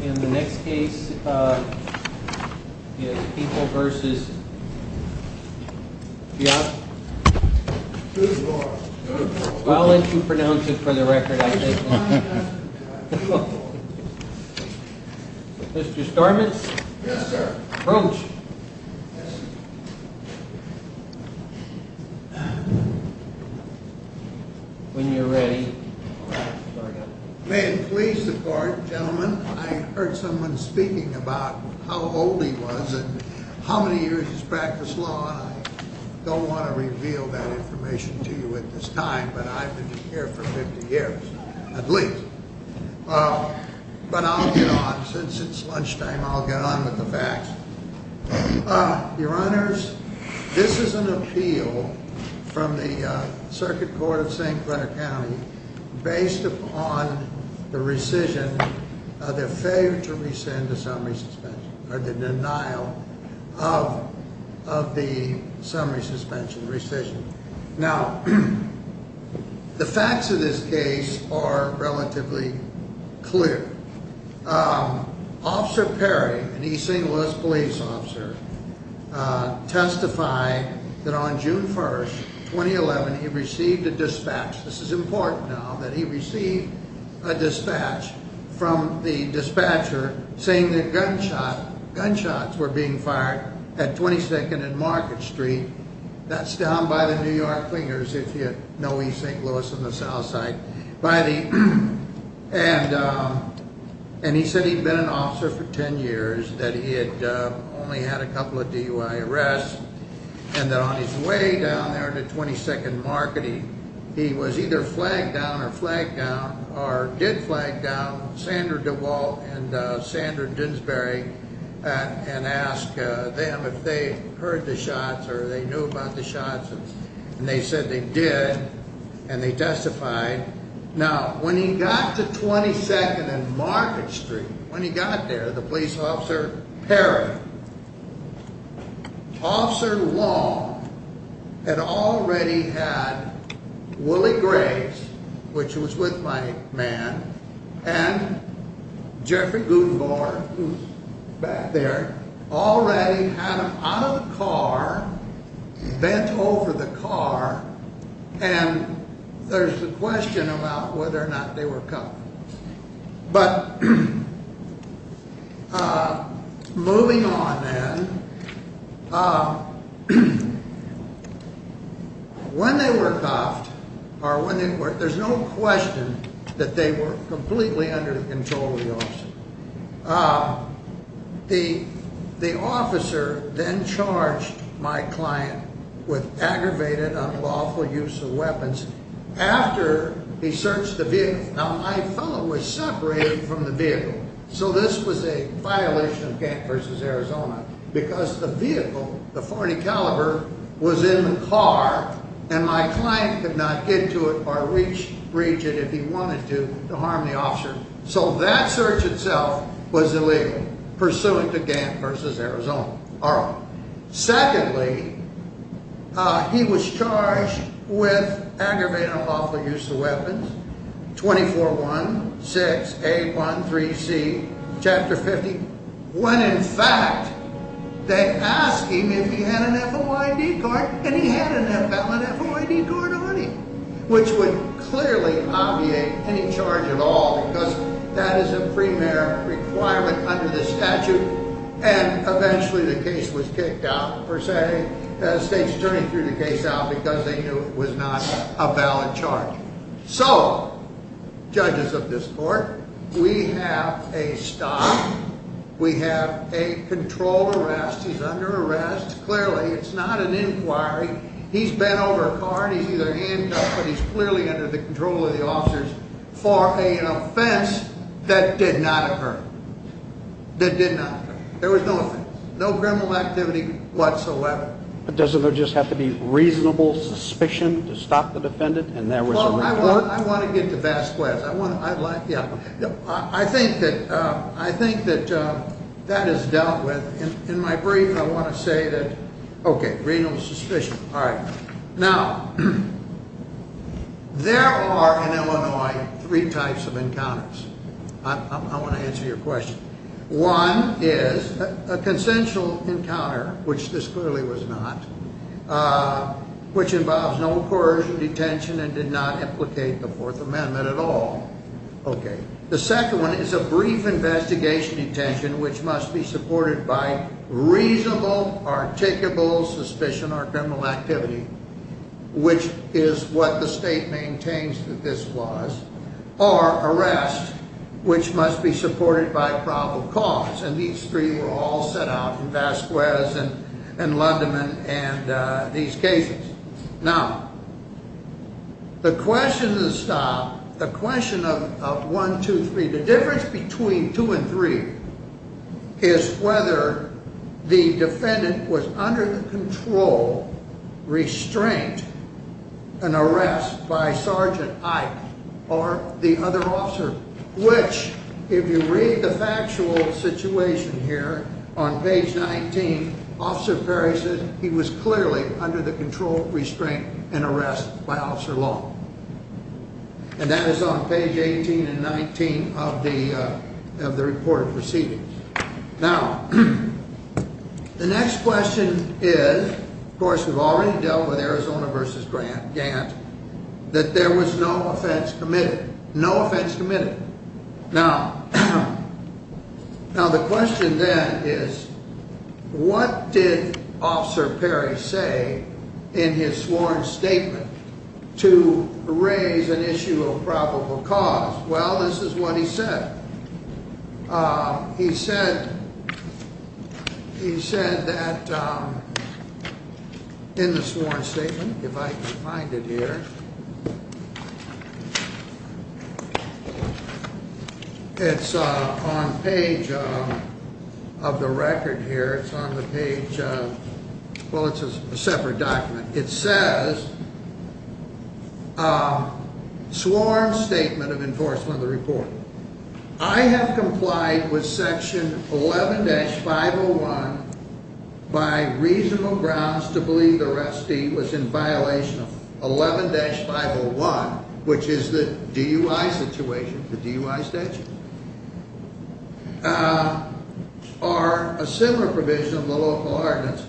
In the next case, People v. Geoff Grootenboer I'll let you pronounce it for the record, I think. Mr. Starman? Yes, sir. Approach. When you're ready. May it please the court, gentlemen, I heard someone speaking about how old he was and how many years he's practiced law, and I don't want to reveal that information to you at this time, but I've been here for 50 years, at least. But I'll get on. Since it's lunchtime, I'll get on with the facts. Your Honors, this is an appeal from the Circuit Court of St. Clair County based upon the rescission, the failure to rescind the summary suspension, or the denial of the summary suspension rescission. Now, the facts of this case are relatively clear. Officer Perry, an East St. Louis police officer, testified that on June 1st, 2011, he received a dispatch, this is important now, that he received a dispatch from the dispatcher saying that gunshots were being fired at 22nd and Market Street, that's down by the New York Clingers, if you know East St. Louis on the south side. And he said he'd been an officer for 10 years, that he had only had a couple of DUI arrests, and that on his way down there to 22nd and Market, he was either flagged down or flagged down, or did flag down, Sandra DeWalt and Sandra Dinsbury, and asked them if they heard the shots or if they knew about the shots. And they said they did, and they testified. And there's the question about whether or not they were cuffed. But moving on then, when they were cuffed, there's no question that they were completely under the control of the officer. The officer then charged my client with aggravated unlawful use of weapons after he searched the vehicle. Now, my fellow was separated from the vehicle, so this was a violation of Gant v. Arizona, because the vehicle, the .40 caliber, was in the car, and my client could not get to it or reach it if he wanted to, to harm the officer. So that search itself was illegal, pursuant to Gant v. Arizona. Secondly, he was charged with aggravated unlawful use of weapons, 24-1-6-8-1-3-C, Chapter 50, when in fact they asked him if he had an FOID card, and he had an FOID card on him, which would clearly obviate any charge at all, because that is a premarital requirement under the statute. And eventually the case was kicked out, per se, the state's attorney threw the case out because they knew it was not a valid charge. So, judges of this court, we have a stop, we have a controlled arrest, he's under arrest, clearly it's not an inquiry, he's bent over a card, he's either handcuffed or he's clearly under the control of the officers for an offense that did not occur. That did not occur. There was no offense. No criminal activity whatsoever. But doesn't there just have to be reasonable suspicion to stop the defendant? Well, I want to get to Vasquez. I think that that is dealt with. In my brief, I want to say that, okay, reasonable suspicion. Now, there are in Illinois three types of encounters. I want to answer your question. One is a consensual encounter, which this clearly was not, which involves no coercion, detention, and did not implicate the Fourth Amendment at all. Okay. The second one is a brief investigation, detention, which must be supported by reasonable, articulable suspicion or criminal activity, which is what the state maintains that this was, or arrest, which must be supported by probable cause. And these three were all set out in Vasquez and Lundeman and these cases. Now, the question to stop, the question of one, two, three, the difference between two and three is whether the defendant was under the control, restraint, an arrest by Sergeant Ike or the other officer, which, if you read the factual situation here on page 19, Officer Perry said he was clearly under the control, restraint, and arrest by Officer Long. And that is on page 18 and 19 of the report of proceedings. Now, the next question is, of course, we've already dealt with Arizona v. Gant, that there was no offense committed. No offense committed. Now, the question then is, what did Officer Perry say in his sworn statement to raise an issue of probable cause? Well, this is what he said. He said that in the sworn statement, if I can find it here, it's on page of the record here, it's on the page of, well, it's a separate document. It says, sworn statement of enforcement of the report. I have complied with section 11-501 by reasonable grounds to believe the restee was in violation of 11-501, which is the DUI situation, the DUI statute. Or a similar provision of the local ordinance.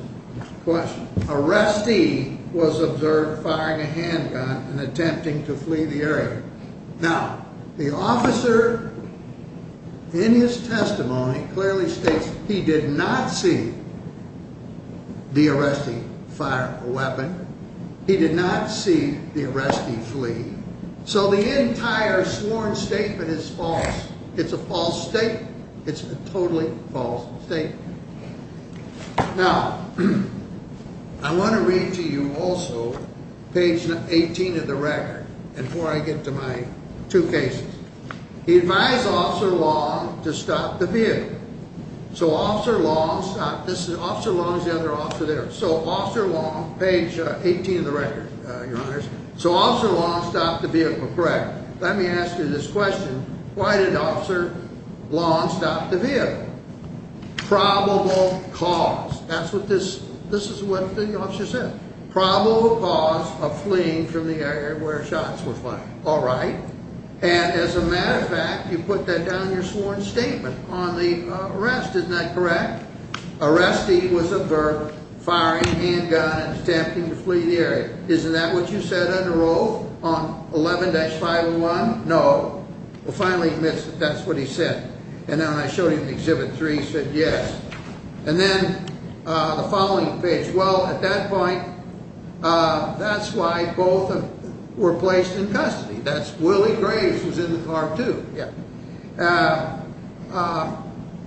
Arrestee was observed firing a handgun and attempting to flee the area. Now, the officer, in his testimony, clearly states he did not see the arrestee fire a weapon. He did not see the arrestee flee. So the entire sworn statement is false. It's a false statement. It's a totally false statement. Now, I want to read to you also page 18 of the record, and before I get to my two cases. He advised Officer Long to stop the vehicle. So Officer Long stopped the vehicle. Correct. Let me ask you this question. Why did Officer Long stop the vehicle? Probable cause. This is what the officer said. Probable cause of fleeing from the area where shots were fired. All right. And as a matter of fact, you put that down in your sworn statement on the arrest. Isn't that correct? Arrestee was observed firing a handgun and attempting to flee the area. Isn't that what you said on the road on 11-501? No. Well, finally admits that that's what he said. And then when I showed him Exhibit 3, he said yes. And then the following page. Well, at that point, that's why both of them were placed in custody. That's Willie Graves was in the car, too. Yeah.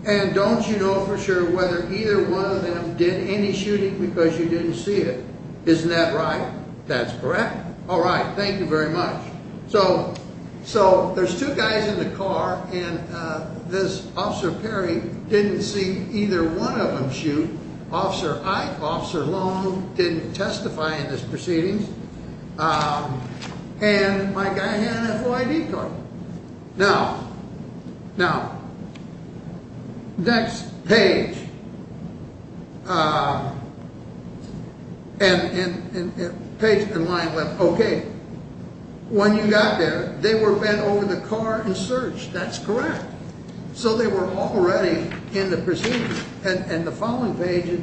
And don't you know for sure whether either one of them did any shooting because you didn't see it? Isn't that right? That's correct. All right. Thank you very much. So so there's two guys in the car and this officer Perry didn't see either one of them. Officer Ike, Officer Long didn't testify in this proceeding. And my guy had an F.O.I.D. card. Now, now, next page. And page in line with OK, when you got there, they were bent over the car and searched. That's correct. So they were already in the procedure and the following page.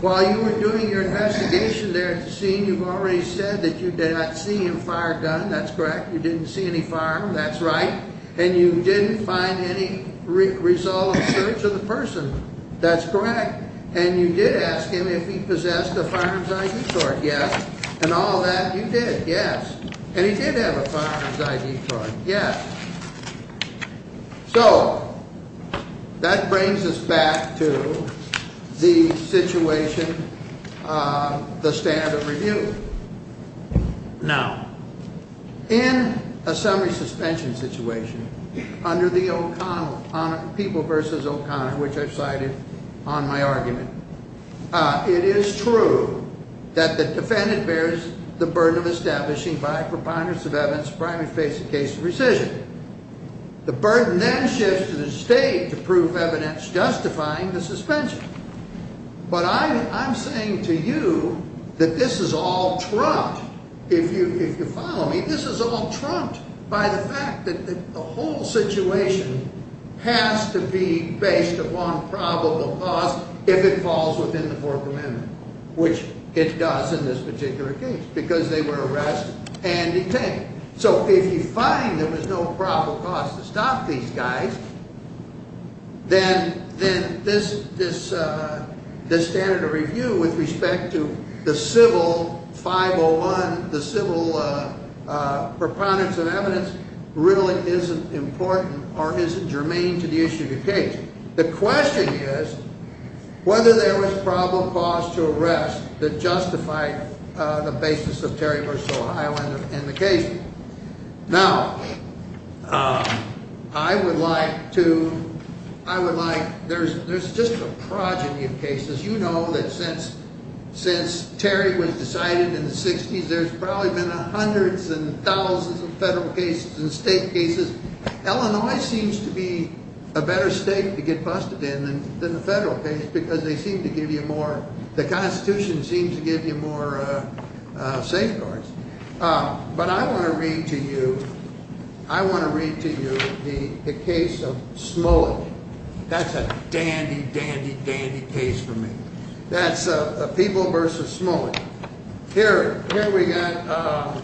While you were doing your investigation there at the scene, you've already said that you did not see him fire a gun. That's correct. You didn't see any firearm. That's right. And you didn't find any result of the search of the person. That's correct. And you did ask him if he possessed a firearm's I.D. card. Yes. And all that you did. Yes. And he did have a firearm's I.D. card. Yes. So that brings us back to the situation, the standard of review. Now, in a semi-suspension situation under the O'Connor, People v. O'Connor, which I've cited on my argument, it is true that the defendant bears the burden of establishing by a preponderance of evidence primary face in case of rescission. The burden then shifts to the state to prove evidence justifying the suspension. But I'm saying to you that this is all trumped. If you follow me, this is all trumped by the fact that the whole situation has to be based upon probable cause if it falls within the Fourth Amendment, which it does in this particular case because they were arrested and detained. So if you find there was no probable cause to stop these guys, then this standard of review with respect to the civil 501, the civil preponderance of evidence, really isn't important or isn't germane to the issue of the case. The question is whether there was probable cause to arrest that justified the basis of Terry v. Ohio in the case. Now, I would like to, I would like, there's just a progeny of cases. You know that since Terry was decided in the 60s, there's probably been hundreds and thousands of federal cases and state cases. Illinois seems to be a better state to get busted in than the federal case because they seem to give you more, the Constitution seems to give you more safeguards. But I want to read to you, I want to read to you the case of Smully. That's a dandy, dandy, dandy case for me. That's People v. Smully. Here we got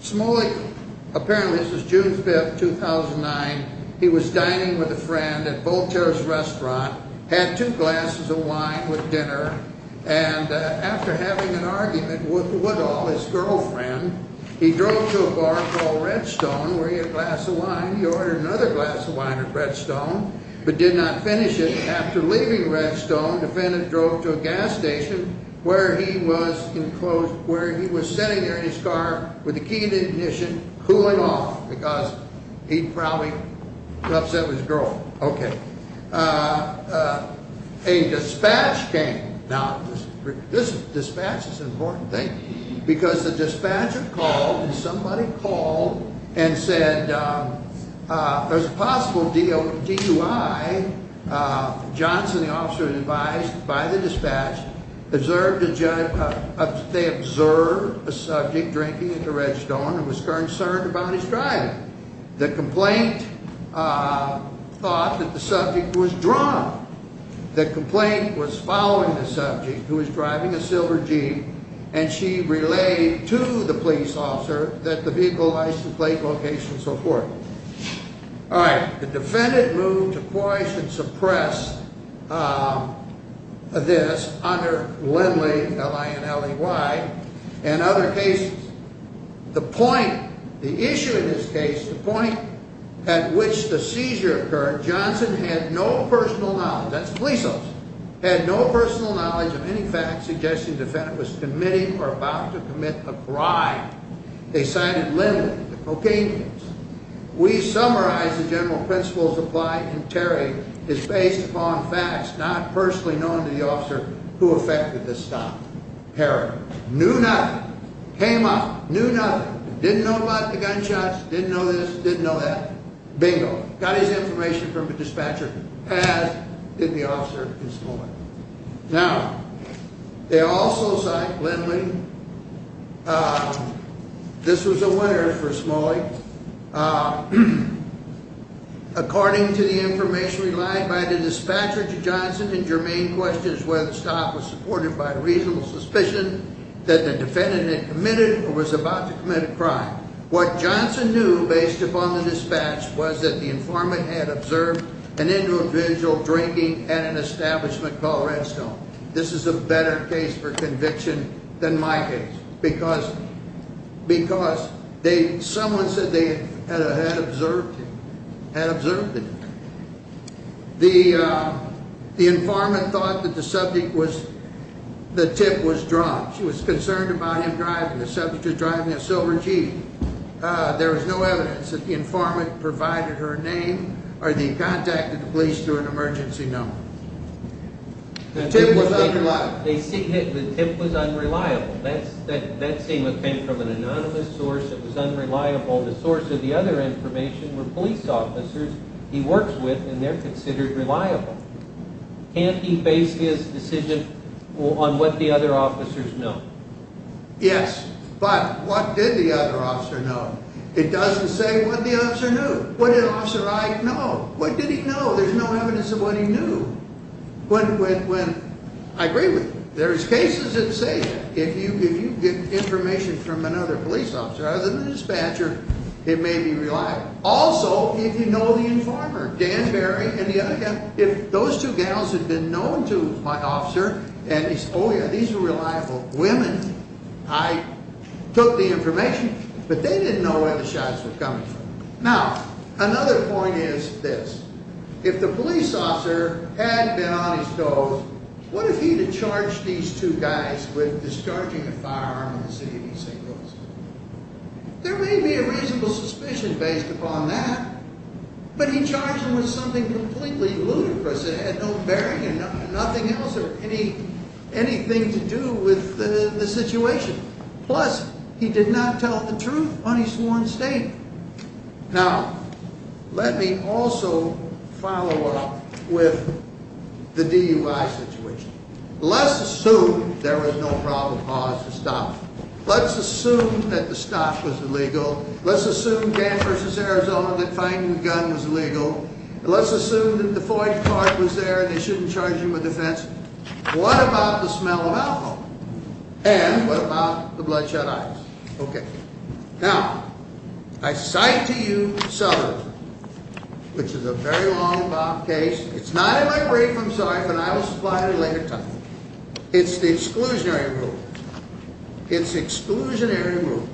Smully, apparently this was June 5th, 2009. He was dining with a friend at Voltaire's restaurant, had two glasses of wine with dinner, and after having an argument with Woodall, his girlfriend, he drove to a bar called Redstone where he had a glass of wine. He ordered another glass of wine at Redstone, but did not finish it. After leaving Redstone, the defendant drove to a gas station where he was enclosed, where he was sitting there in his car with the key to the ignition cooling off because he'd probably upset his girlfriend. Okay. A dispatch came. Now, this dispatch is an important thing because the dispatcher called and somebody called and said, there's a possible DUI. Johnson, the officer advised by the dispatch, observed, they observed a subject drinking at the Redstone and was concerned about his driving. The complaint thought that the subject was drunk. The complaint was following the subject, who was driving a silver jeep, and she relayed to the police officer that the vehicle license plate location and so forth. All right. The defendant moved to coerce and suppress this under Lindley, L-I-N-L-E-Y, and other cases. The point, the issue in this case, the point at which the seizure occurred, Johnson had no personal knowledge, that's police officers, had no personal knowledge of any facts suggesting the defendant was committing or about to commit a crime. They cited Lindley, the cocaine use. We summarized the general principles apply in Terry is based upon facts not personally known to the officer who effected this stop. Heroin. Knew nothing. Came up, knew nothing. Didn't know about the gunshots, didn't know this, didn't know that. Bingo. Got his information from the dispatcher, passed, and the officer is gone. Now, they also cite Lindley. This was a winner for Smalley. According to the information relied by the dispatcher to Johnson and Jermaine questions whether the stop was supported by reasonable suspicion that the defendant had committed or was about to commit a crime. What Johnson knew, based upon the dispatch, was that the informant had observed an individual drinking at an establishment called Redstone. This is a better case for conviction than my case, because someone said they had observed it. The informant thought that the tip was drunk. She was concerned about him driving. The subject was driving a silver jeep. There was no evidence that the informant provided her name or that he contacted the police through an emergency number. The tip was unreliable. That statement came from an anonymous source that was unreliable. The source of the other information were police officers he works with, and they're considered reliable. Can't he base his decision on what the other officers know? Yes, but what did the other officer know? It doesn't say what the other officer knew. What did Officer Ike know? What did he know? There's no evidence of what he knew. I agree with you. There's cases that say that if you get information from another police officer other than the dispatcher, it may be reliable. Also, if you know the informer, Dan Berry and the other guy, if those two gals had been known to my officer and he said, oh yeah, these are reliable women, I took the information, but they didn't know where the shots were coming from. Now, another point is this. If the police officer had been on his toes, what if he had charged these two guys with discharging a firearm in the city of East St. Louis? There may be a reasonable suspicion based upon that, but he charged them with something completely ludicrous. It had no bearing and nothing else or anything to do with the situation. Plus, he did not tell the truth on his sworn statement. Now, let me also follow up with the DUI situation. Let's assume there was no probable cause to stop it. Let's assume that the stop was illegal. Let's assume Dan v. Arizona that finding the gun was illegal. Let's assume that the FOIA card was there and they shouldn't charge you with offense. What about the smell of alcohol? And what about the bloodshot eyes? Now, I cite to you Souther's, which is a very long case. It's not in my brief, I'm sorry, but I will supply it at a later time. It's the exclusionary rule. It's the exclusionary rule.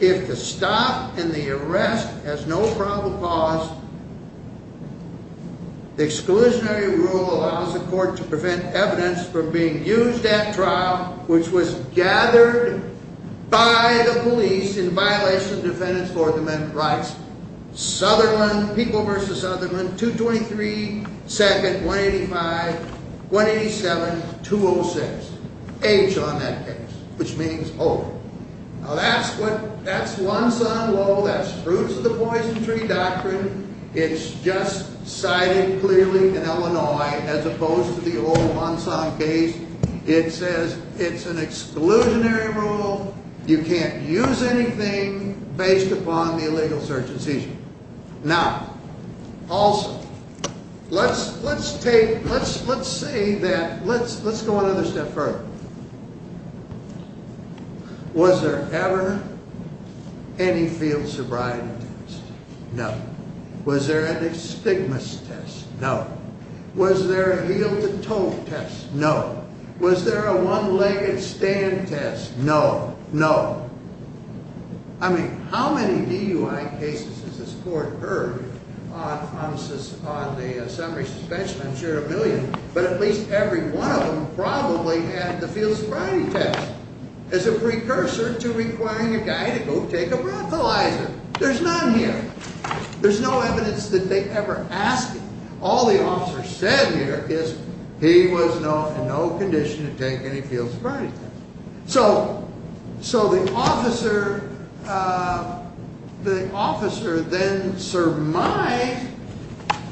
If the stop and the arrest has no probable cause, the exclusionary rule allows the court to prevent evidence from being used at trial, which was gathered by the police in violation of defendant's Lord Amendment rights. Southerland, People v. Southerland, 223, 2nd, 185, 187, 206. H on that case, which means O. Now, that's one-son law, that's fruits of the poison tree doctrine. It's just cited clearly in Illinois as opposed to the old one-son case. It says it's an exclusionary rule. You can't use anything based upon the illegal search and seizure. Now, also, let's take, let's say that, let's go another step further. Was there ever any field sobriety test? No. Was there any stigmas test? No. Was there a heel-to-toe test? No. Was there a one-legged stand test? No. No. I mean, how many DUI cases has this court heard on the summary suspension? I'm sure a million, but at least every one of them probably had the field sobriety test as a precursor to requiring a guy to go take a breathalyzer. There's none here. There's no evidence that they ever asked him. All the officer said here is he was in no condition to take any field sobriety tests. So, the officer then surmised,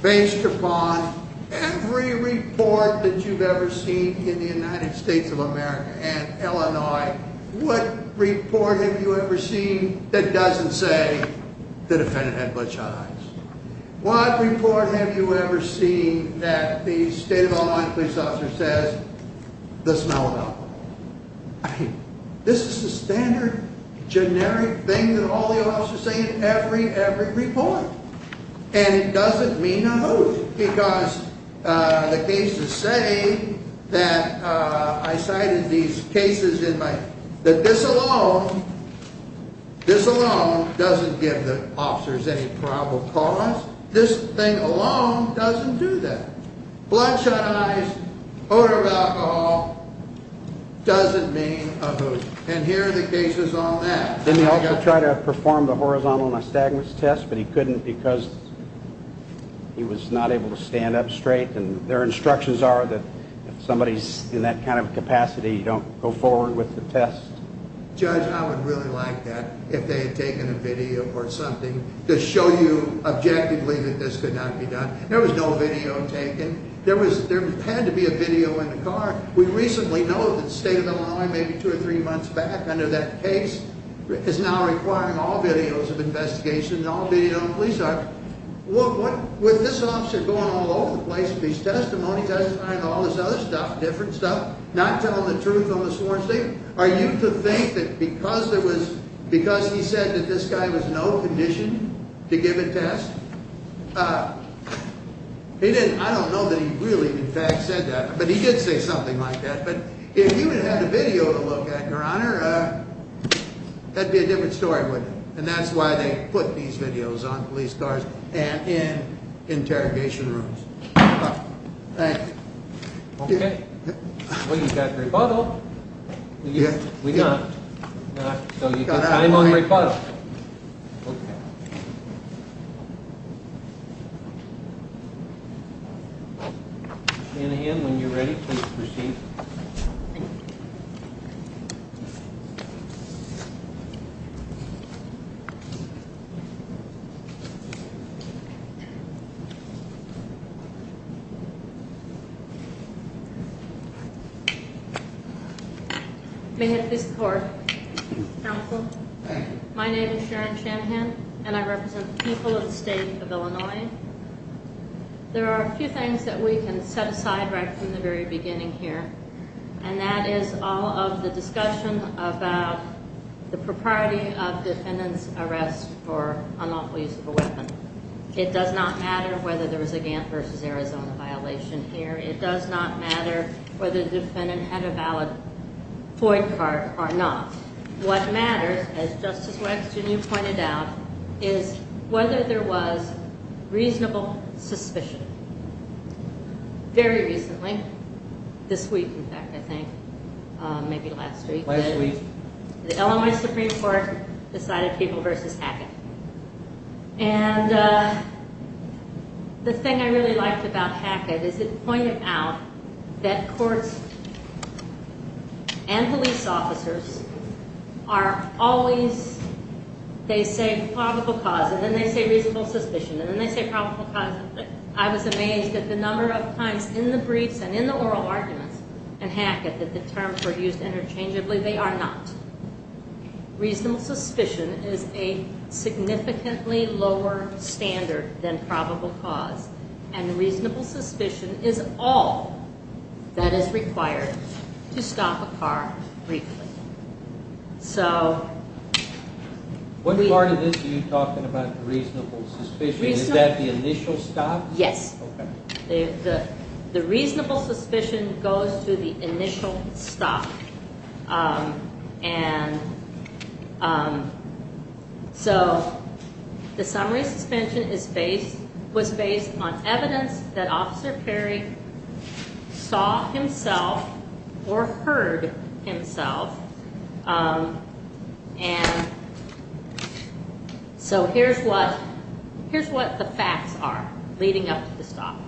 based upon every report that you've ever seen in the United States of America and Illinois, what report have you ever seen that doesn't say the defendant had bloodshot eyes? What report have you ever seen that the state of Illinois police officer says, the smell of alcohol? I mean, this is a standard, generic thing that all the officers say in every, every report. And it doesn't mean a hoot, because the cases say that, I cited these cases in my, that this alone, this alone doesn't give the officers any probable cause. This thing alone doesn't do that. Bloodshot eyes, odor of alcohol, doesn't mean a hoot. And here are the cases on that. Didn't he also try to perform the horizontal nystagmus test, but he couldn't because he was not able to stand up straight. And their instructions are that if somebody's in that kind of capacity, don't go forward with the test. Judge, I would really like that, if they had taken a video or something to show you objectively that this could not be done. There was no video taken. There was, there had to be a video in the car. We recently know that the state of Illinois, maybe two or three months back under that case, is now requiring all videos of investigations, all video of police officers. With this officer going all over the place with his testimony, testifying to all this other stuff, different stuff, not telling the truth on the sworn statement, are you to think that because there was, because he said that this guy was no condition to give a test, he didn't, I don't know that he really in fact said that, but he did say something like that. But if you had a video to look at, your honor, that'd be a different story, wouldn't it? And that's why they put these videos on police cars and in interrogation rooms. Thank you. Okay. Well, you've got rebuttal. We've got time on rebuttal. And again, when you're ready, please proceed. Thank you. That is all of the discussion about the propriety of defendant's arrest for unlawful use of a weapon. It does not matter whether there was a Gantt versus Arizona violation here. It does not matter whether the defendant had a valid point card or not. What matters, as Justice Weinstein, you pointed out, is whether there was reasonable suspicion. Very recently, this week, in fact, I think, maybe last week, the Illinois Supreme Court decided Peeble versus Hackett. And the thing I really liked about Hackett is it pointed out that courts and police officers are always, they say probable cause, and then they say reasonable suspicion, and then they say probable cause. And I was amazed at the number of times in the briefs and in the oral arguments in Hackett that the terms were used interchangeably. They are not. Reasonable suspicion is a significantly lower standard than probable cause. And reasonable suspicion is all that is required to stop a car briefly. What part of this are you talking about the reasonable suspicion? Is that the initial stop? Yes. The reasonable suspicion goes to the initial stop. And so the summary suspension was based on evidence that Officer Perry saw himself or heard himself. And so here's what the facts are leading up to the stop.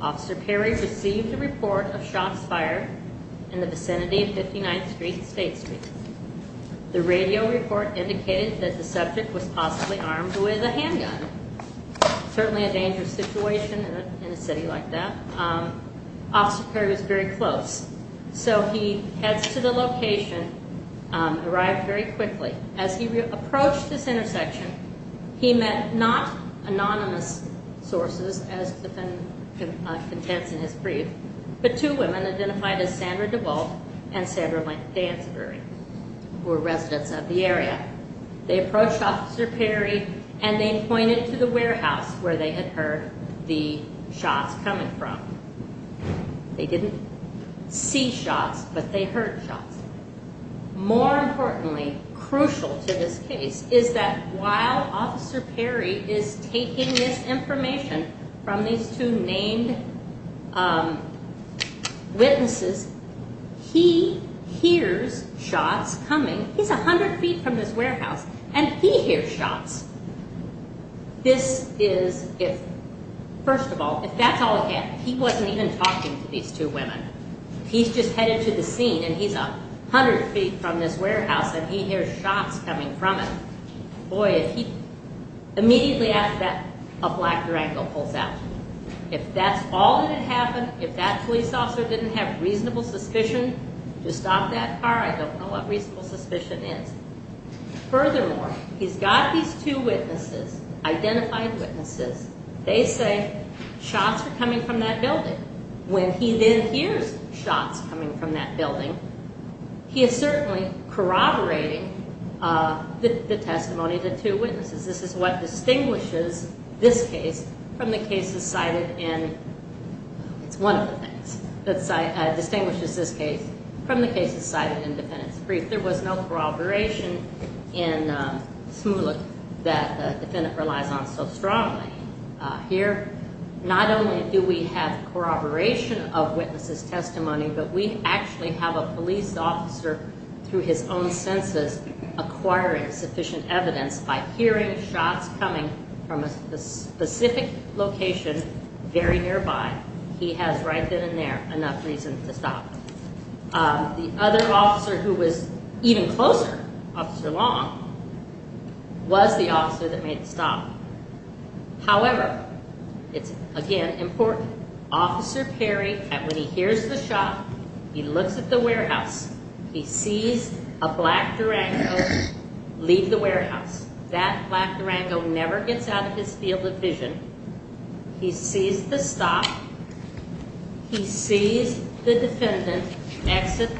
Officer Perry received a report of shots fired in the vicinity of 59th Street and State Street. The radio report indicated that the subject was possibly armed with a handgun. Certainly a dangerous situation in a city like that. Officer Perry was very close. So he heads to the location, arrived very quickly. As he approached this intersection, he met not anonymous sources, as the defendant contends in his brief, but two women identified as Sandra DeVault and Sandra Lansbury, who were residents of the area. They approached Officer Perry and they pointed to the warehouse where they had heard the shots coming from. They didn't see shots, but they heard shots. More importantly, crucial to this case, is that while Officer Perry is taking this information from these two named witnesses, he hears shots coming. He's 100 feet from this warehouse and he hears shots. This is if, first of all, if that's all he can. He wasn't even talking to these two women. He's just headed to the scene and he's 100 feet from this warehouse and he hears shots coming from it. Boy, if he immediately after that, a black Durango pulls out. If that's all that happened, if that police officer didn't have reasonable suspicion to stop that car, I don't know what reasonable suspicion is. This is what distinguishes this case from the cases cited in the defendant's brief. There was no corroboration in Smulik that the defendant relies on so strongly. Here, not only do we have corroboration of witnesses' testimony, but we actually have a police officer through his own senses acquiring sufficient evidence by hearing shots coming from a specific location very nearby. He has right then and there enough reason to stop. The other officer who was even closer, Officer Long, was the officer that made the stop. However, it's again important. Officer Perry, when he hears the shot, he looks at the warehouse. He sees a black Durango leave the warehouse. That black Durango never gets out of his field of vision. He sees the stop. He sees the defendant exit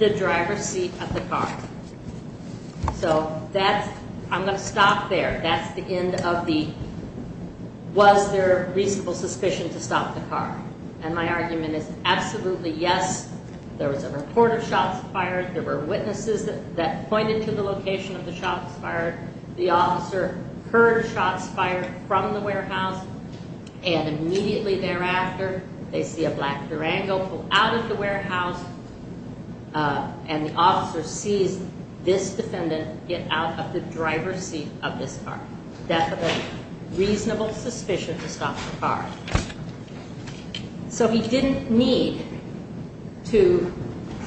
the driver's seat of the car. So, I'm going to stop there. That's the end of the, was there reasonable suspicion to stop the car? And my argument is absolutely yes. There was a report of shots fired. There were witnesses that pointed to the location of the shots fired. The officer heard shots fired from the warehouse, and immediately thereafter, they see a black Durango pull out of the warehouse. And the officer sees this defendant get out of the driver's seat of this car. That's a reasonable suspicion to stop the car. So, he didn't need to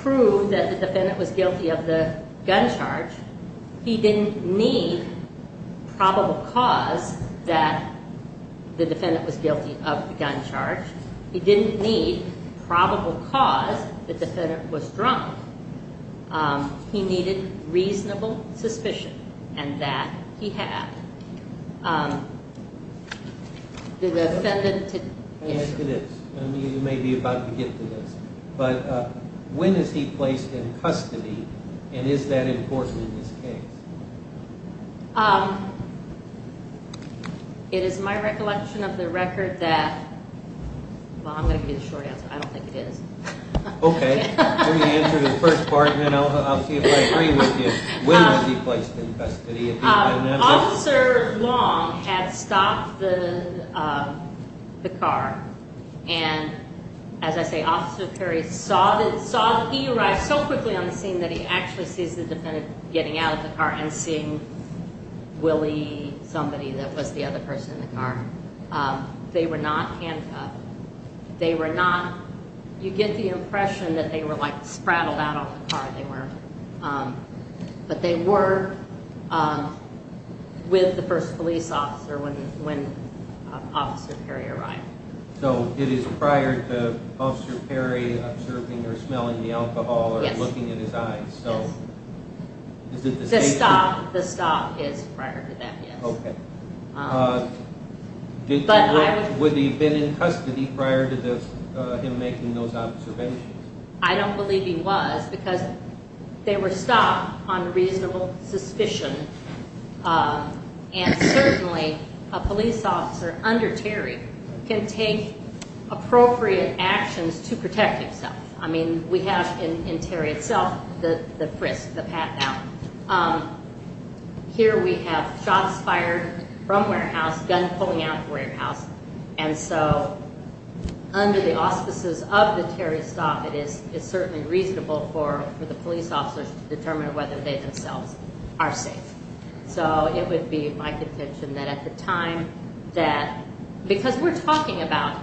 prove that the defendant was guilty of the gun charge. He didn't need probable cause that the defendant was guilty of the gun charge. He didn't need probable cause the defendant was drunk. He needed reasonable suspicion, and that he had. Let me ask you this. You may be about to get to this, but when is he placed in custody, and is that important in this case? It is my recollection of the record that, well, I'm going to give you the short answer. I don't think it is. Okay. Let me answer the first part, and then I'll see if I agree with you. When was he placed in custody? Officer Long had stopped the car, and as I say, Officer Perry saw that he arrived so quickly on the scene that he actually sees the defendant getting out of the car and seeing Willie, somebody that was the other person in the car. They were not handcuffed. They were not, you get the impression that they were like, spraddled out of the car. But they were with the first police officer when Officer Perry arrived. So, it is prior to Officer Perry observing or smelling the alcohol or looking at his eyes? Yes. So, is it the station? The stop is prior to that, yes. Okay. Would he have been in custody prior to him making those observations? I don't believe he was, because they were stopped on reasonable suspicion, and certainly a police officer under Terry can take appropriate actions to protect himself. I mean, we have in Terry itself the frisk, the pat-down. Here we have shots fired from warehouse, guns pulling out of warehouse, and so under the auspices of the Terry stop, it is certainly reasonable for the police officers to determine whether they themselves are safe. So, it would be my contention that at the time that, because we're talking about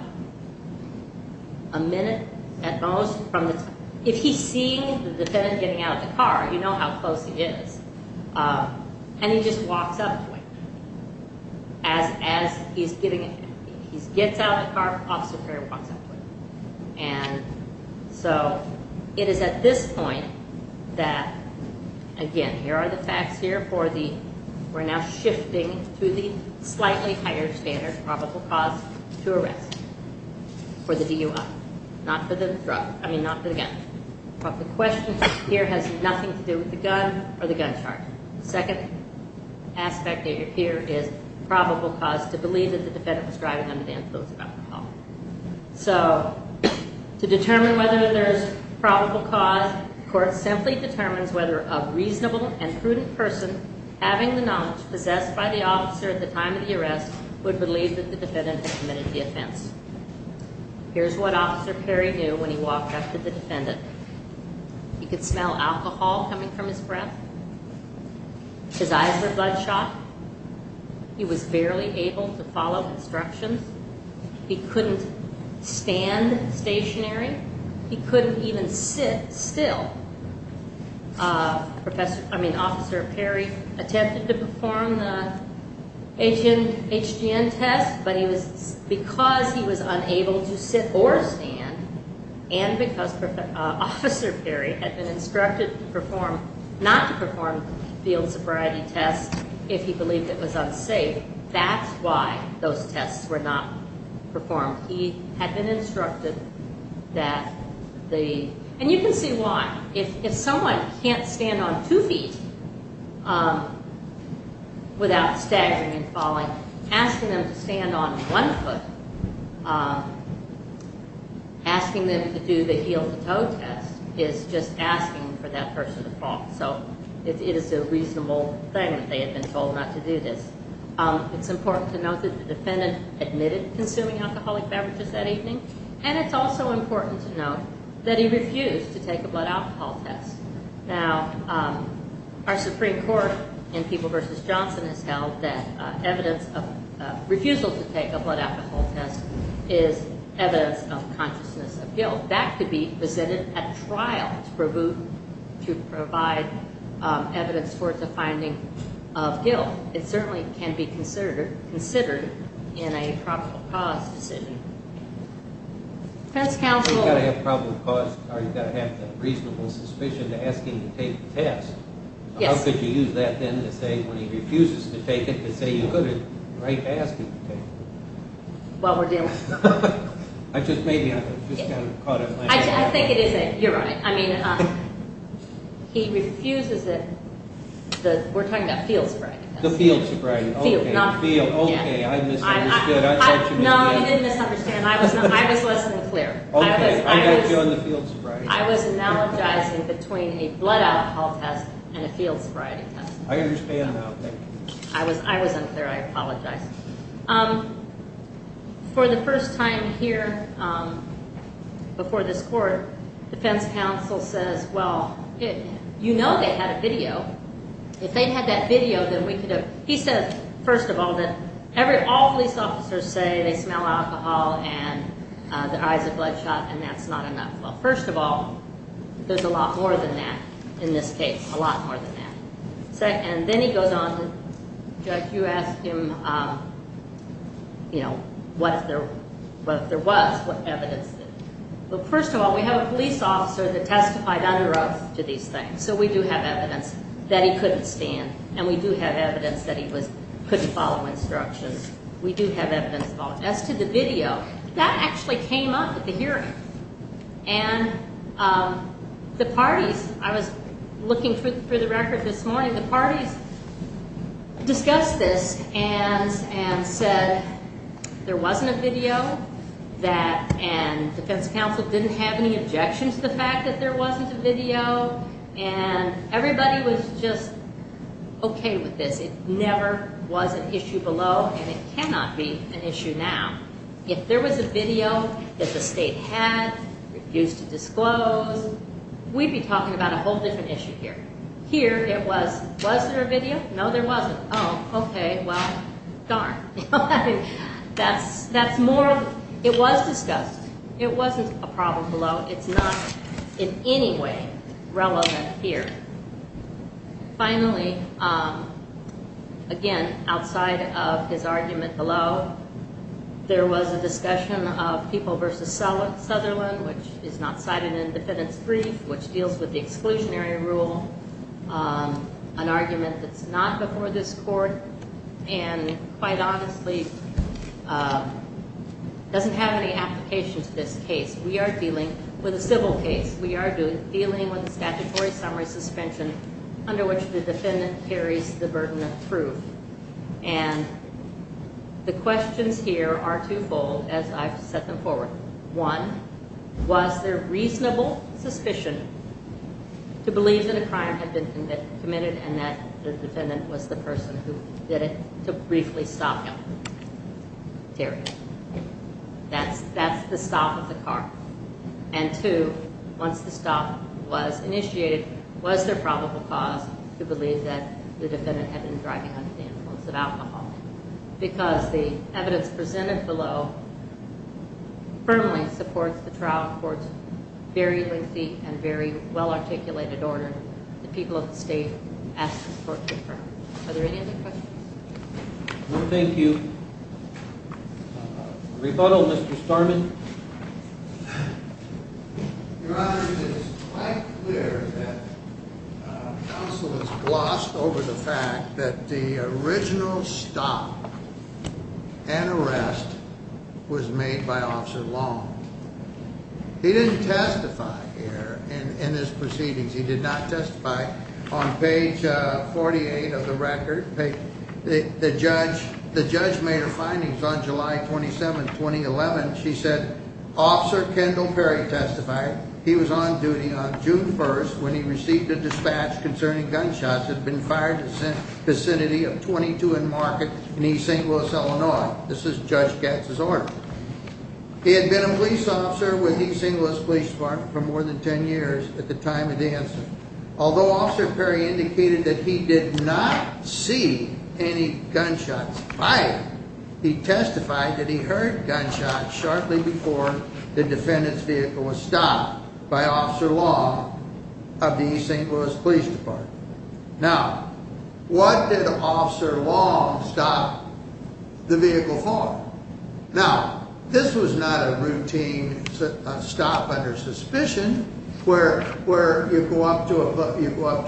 a minute at most from the, if he's seeing the defendant getting out of the car, you know how close he is, and he just walks up to him. As he's getting, he gets out of the car, Officer Perry walks up to him. And so, it is at this point that, again, here are the facts here for the, we're now shifting to the slightly higher standard probable cause to arrest for the DUI. Not for the drug, I mean, not for the gun. But the question here has nothing to do with the gun or the gun charge. The second aspect here is probable cause to believe that the defendant was driving under the influence of alcohol. So, to determine whether there's probable cause, the court simply determines whether a reasonable and prudent person, having the knowledge possessed by the officer at the time of the arrest, would believe that the defendant had committed the offense. Here's what Officer Perry knew when he walked up to the defendant. He could smell alcohol coming from his breath. His eyes were bloodshot. He was barely able to follow instructions. He couldn't stand stationary. He couldn't even sit still. I mean, Officer Perry attempted to perform the HGN test, but because he was unable to sit or stand, and because Officer Perry had been instructed not to perform field sobriety tests if he believed it was unsafe, that's why those tests were not performed. He had been instructed that the—and you can see why. If someone can't stand on two feet without staggering and falling, asking them to stand on one foot, asking them to do the heel-to-toe test is just asking for that person to fall. So, it is a reasonable thing that they had been told not to do this. It's important to note that the defendant admitted consuming alcoholic beverages that evening, and it's also important to note that he refused to take a blood alcohol test. Now, our Supreme Court in People v. Johnson has held that evidence of refusal to take a blood alcohol test is evidence of consciousness of guilt. So, that could be presented at trial to provide evidence for the finding of guilt. It certainly can be considered in a probable cause decision. Defense counsel? You've got to have probable cause, or you've got to have the reasonable suspicion to ask him to take the test. Yes. How could you use that, then, to say when he refuses to take it, to say you could have right to ask him to take it? Well, we're dealing— I think it is a—you're right. I mean, he refuses it. We're talking about field sobriety tests. The field sobriety, okay. Field, not— Field, okay. I misunderstood. No, you didn't misunderstand. I was less than clear. Okay. I got you on the field sobriety test. I was analogizing between a blood alcohol test and a field sobriety test. I understand now. Thank you. I was unclear. I apologize. For the first time here before this court, defense counsel says, well, you know they had a video. If they had that video, then we could have—he says, first of all, that all police officers say they smell alcohol and their eyes are bloodshot, and that's not enough. Well, first of all, there's a lot more than that in this case, a lot more than that. And then he goes on to—Judge, you asked him, you know, what if there was, what evidence. Well, first of all, we have a police officer that testified under oath to these things, so we do have evidence that he couldn't stand, and we do have evidence that he couldn't follow instructions. We do have evidence. As to the video, that actually came up at the hearing. And the parties, I was looking through the record this morning, the parties discussed this and said there wasn't a video, and defense counsel didn't have any objections to the fact that there wasn't a video, and everybody was just okay with this. It never was an issue below, and it cannot be an issue now. If there was a video that the state had, refused to disclose, we'd be talking about a whole different issue here. Here, it was, was there a video? No, there wasn't. Oh, okay, well, darn. That's more—it was discussed. It wasn't a problem below. It's not in any way relevant here. Finally, again, outside of his argument below, there was a discussion of People v. Sutherland, which is not cited in the defendant's brief, which deals with the exclusionary rule, an argument that's not before this court, and quite honestly, doesn't have any application to this case. We are dealing with a civil case. We are dealing with a statutory summary suspension under which the defendant carries the burden of proof, and the questions here are twofold as I've set them forward. One, was there reasonable suspicion to believe that a crime had been committed and that the defendant was the person who did it to briefly stop him? Period. That's the stop of the car. And two, once the stop was initiated, was there probable cause to believe that the defendant had been driving under the influence of alcohol? Because the evidence presented below firmly supports the trial court's very lengthy and very well-articulated order. The people of the state ask for support to affirm it. Are there any other questions? No, thank you. Rebuttal, Mr. Starman. Your Honor, it is quite clear that counsel has glossed over the fact that the original stop and arrest was made by Officer Long. He didn't testify here in his proceedings. He did not testify. On page 48 of the record, the judge made her findings on July 27, 2011. She said, Officer Kendall Perry testified. He was on duty on June 1st when he received a dispatch concerning gunshots had been fired in the vicinity of 22 and Market in East St. Louis, Illinois. This is Judge Gatz's order. He had been a police officer with East St. Louis Police Department for more than 10 years at the time of the incident. Although Officer Perry indicated that he did not see any gunshots fired, he testified that he heard gunshots shortly before the defendant's vehicle was stopped by Officer Long of the East St. Louis Police Department. Now, what did Officer Long stop the vehicle for? Now, this was not a routine stop under suspicion where you go up to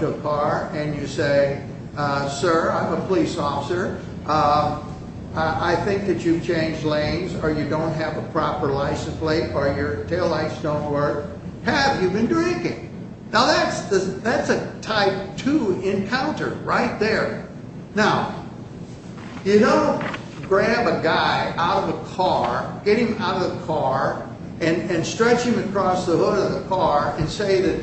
a car and you say, Sir, I'm a police officer. I think that you've changed lanes or you don't have a proper license plate or your taillights don't work. Have you been drinking? Now, that's a type two encounter right there. Now, you don't grab a guy out of a car, get him out of the car and stretch him across the hood of the car and say that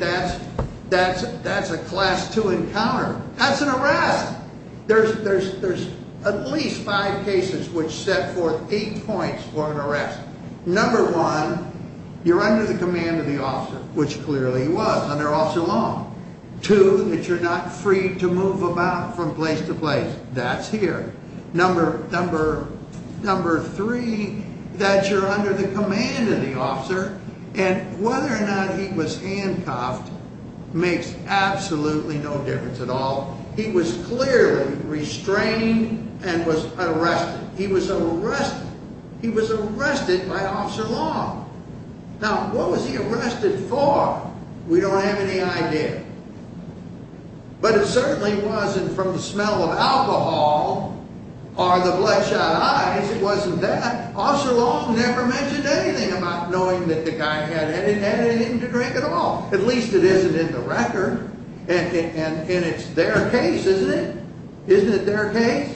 that's a class two encounter. That's an arrest. There's at least five cases which set forth eight points for an arrest. Number one, you're under the command of the officer, which clearly he was under Officer Long. Two, that you're not free to move about from place to place. That's here. Number three, that you're under the command of the officer and whether or not he was handcuffed makes absolutely no difference at all. He was clearly restrained and was arrested. He was arrested. He was arrested by Officer Long. Now, what was he arrested for? We don't have any idea. But it certainly wasn't from the smell of alcohol or the bloodshot eyes. It wasn't that. Officer Long never mentioned anything about knowing that the guy had had anything to drink at all. At least it isn't in the record. And it's their case, isn't it? Isn't it their case?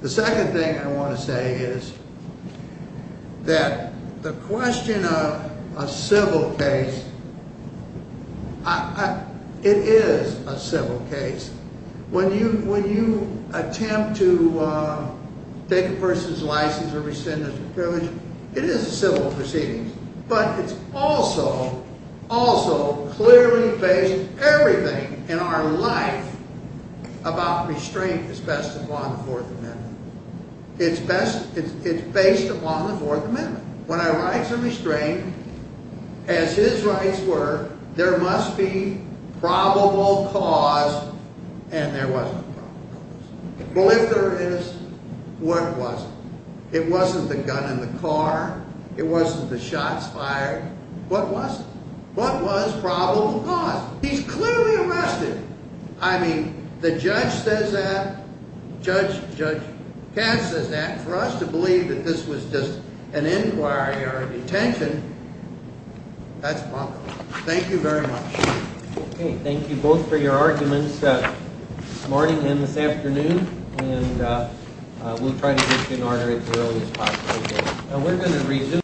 The second thing I want to say is that the question of a civil case, it is a civil case. When you attempt to take a person's license or rescind their privilege, it is a civil proceeding. But it's also clearly based, everything in our life about restraint is based upon the Fourth Amendment. It's based upon the Fourth Amendment. When I write some restraint, as his rights were, there must be probable cause and there wasn't a probable cause. Well, if there is, what was it? It wasn't the gun in the car. It wasn't the shots fired. What was it? What was probable cause? He's clearly arrested. I mean, the judge says that. Judge Cass says that. For us to believe that this was just an inquiry or a detention, that's bunk. Thank you very much. Okay. Thank you both for your arguments this morning and this afternoon. And we'll try to get you in order as early as possible. We're going to resume.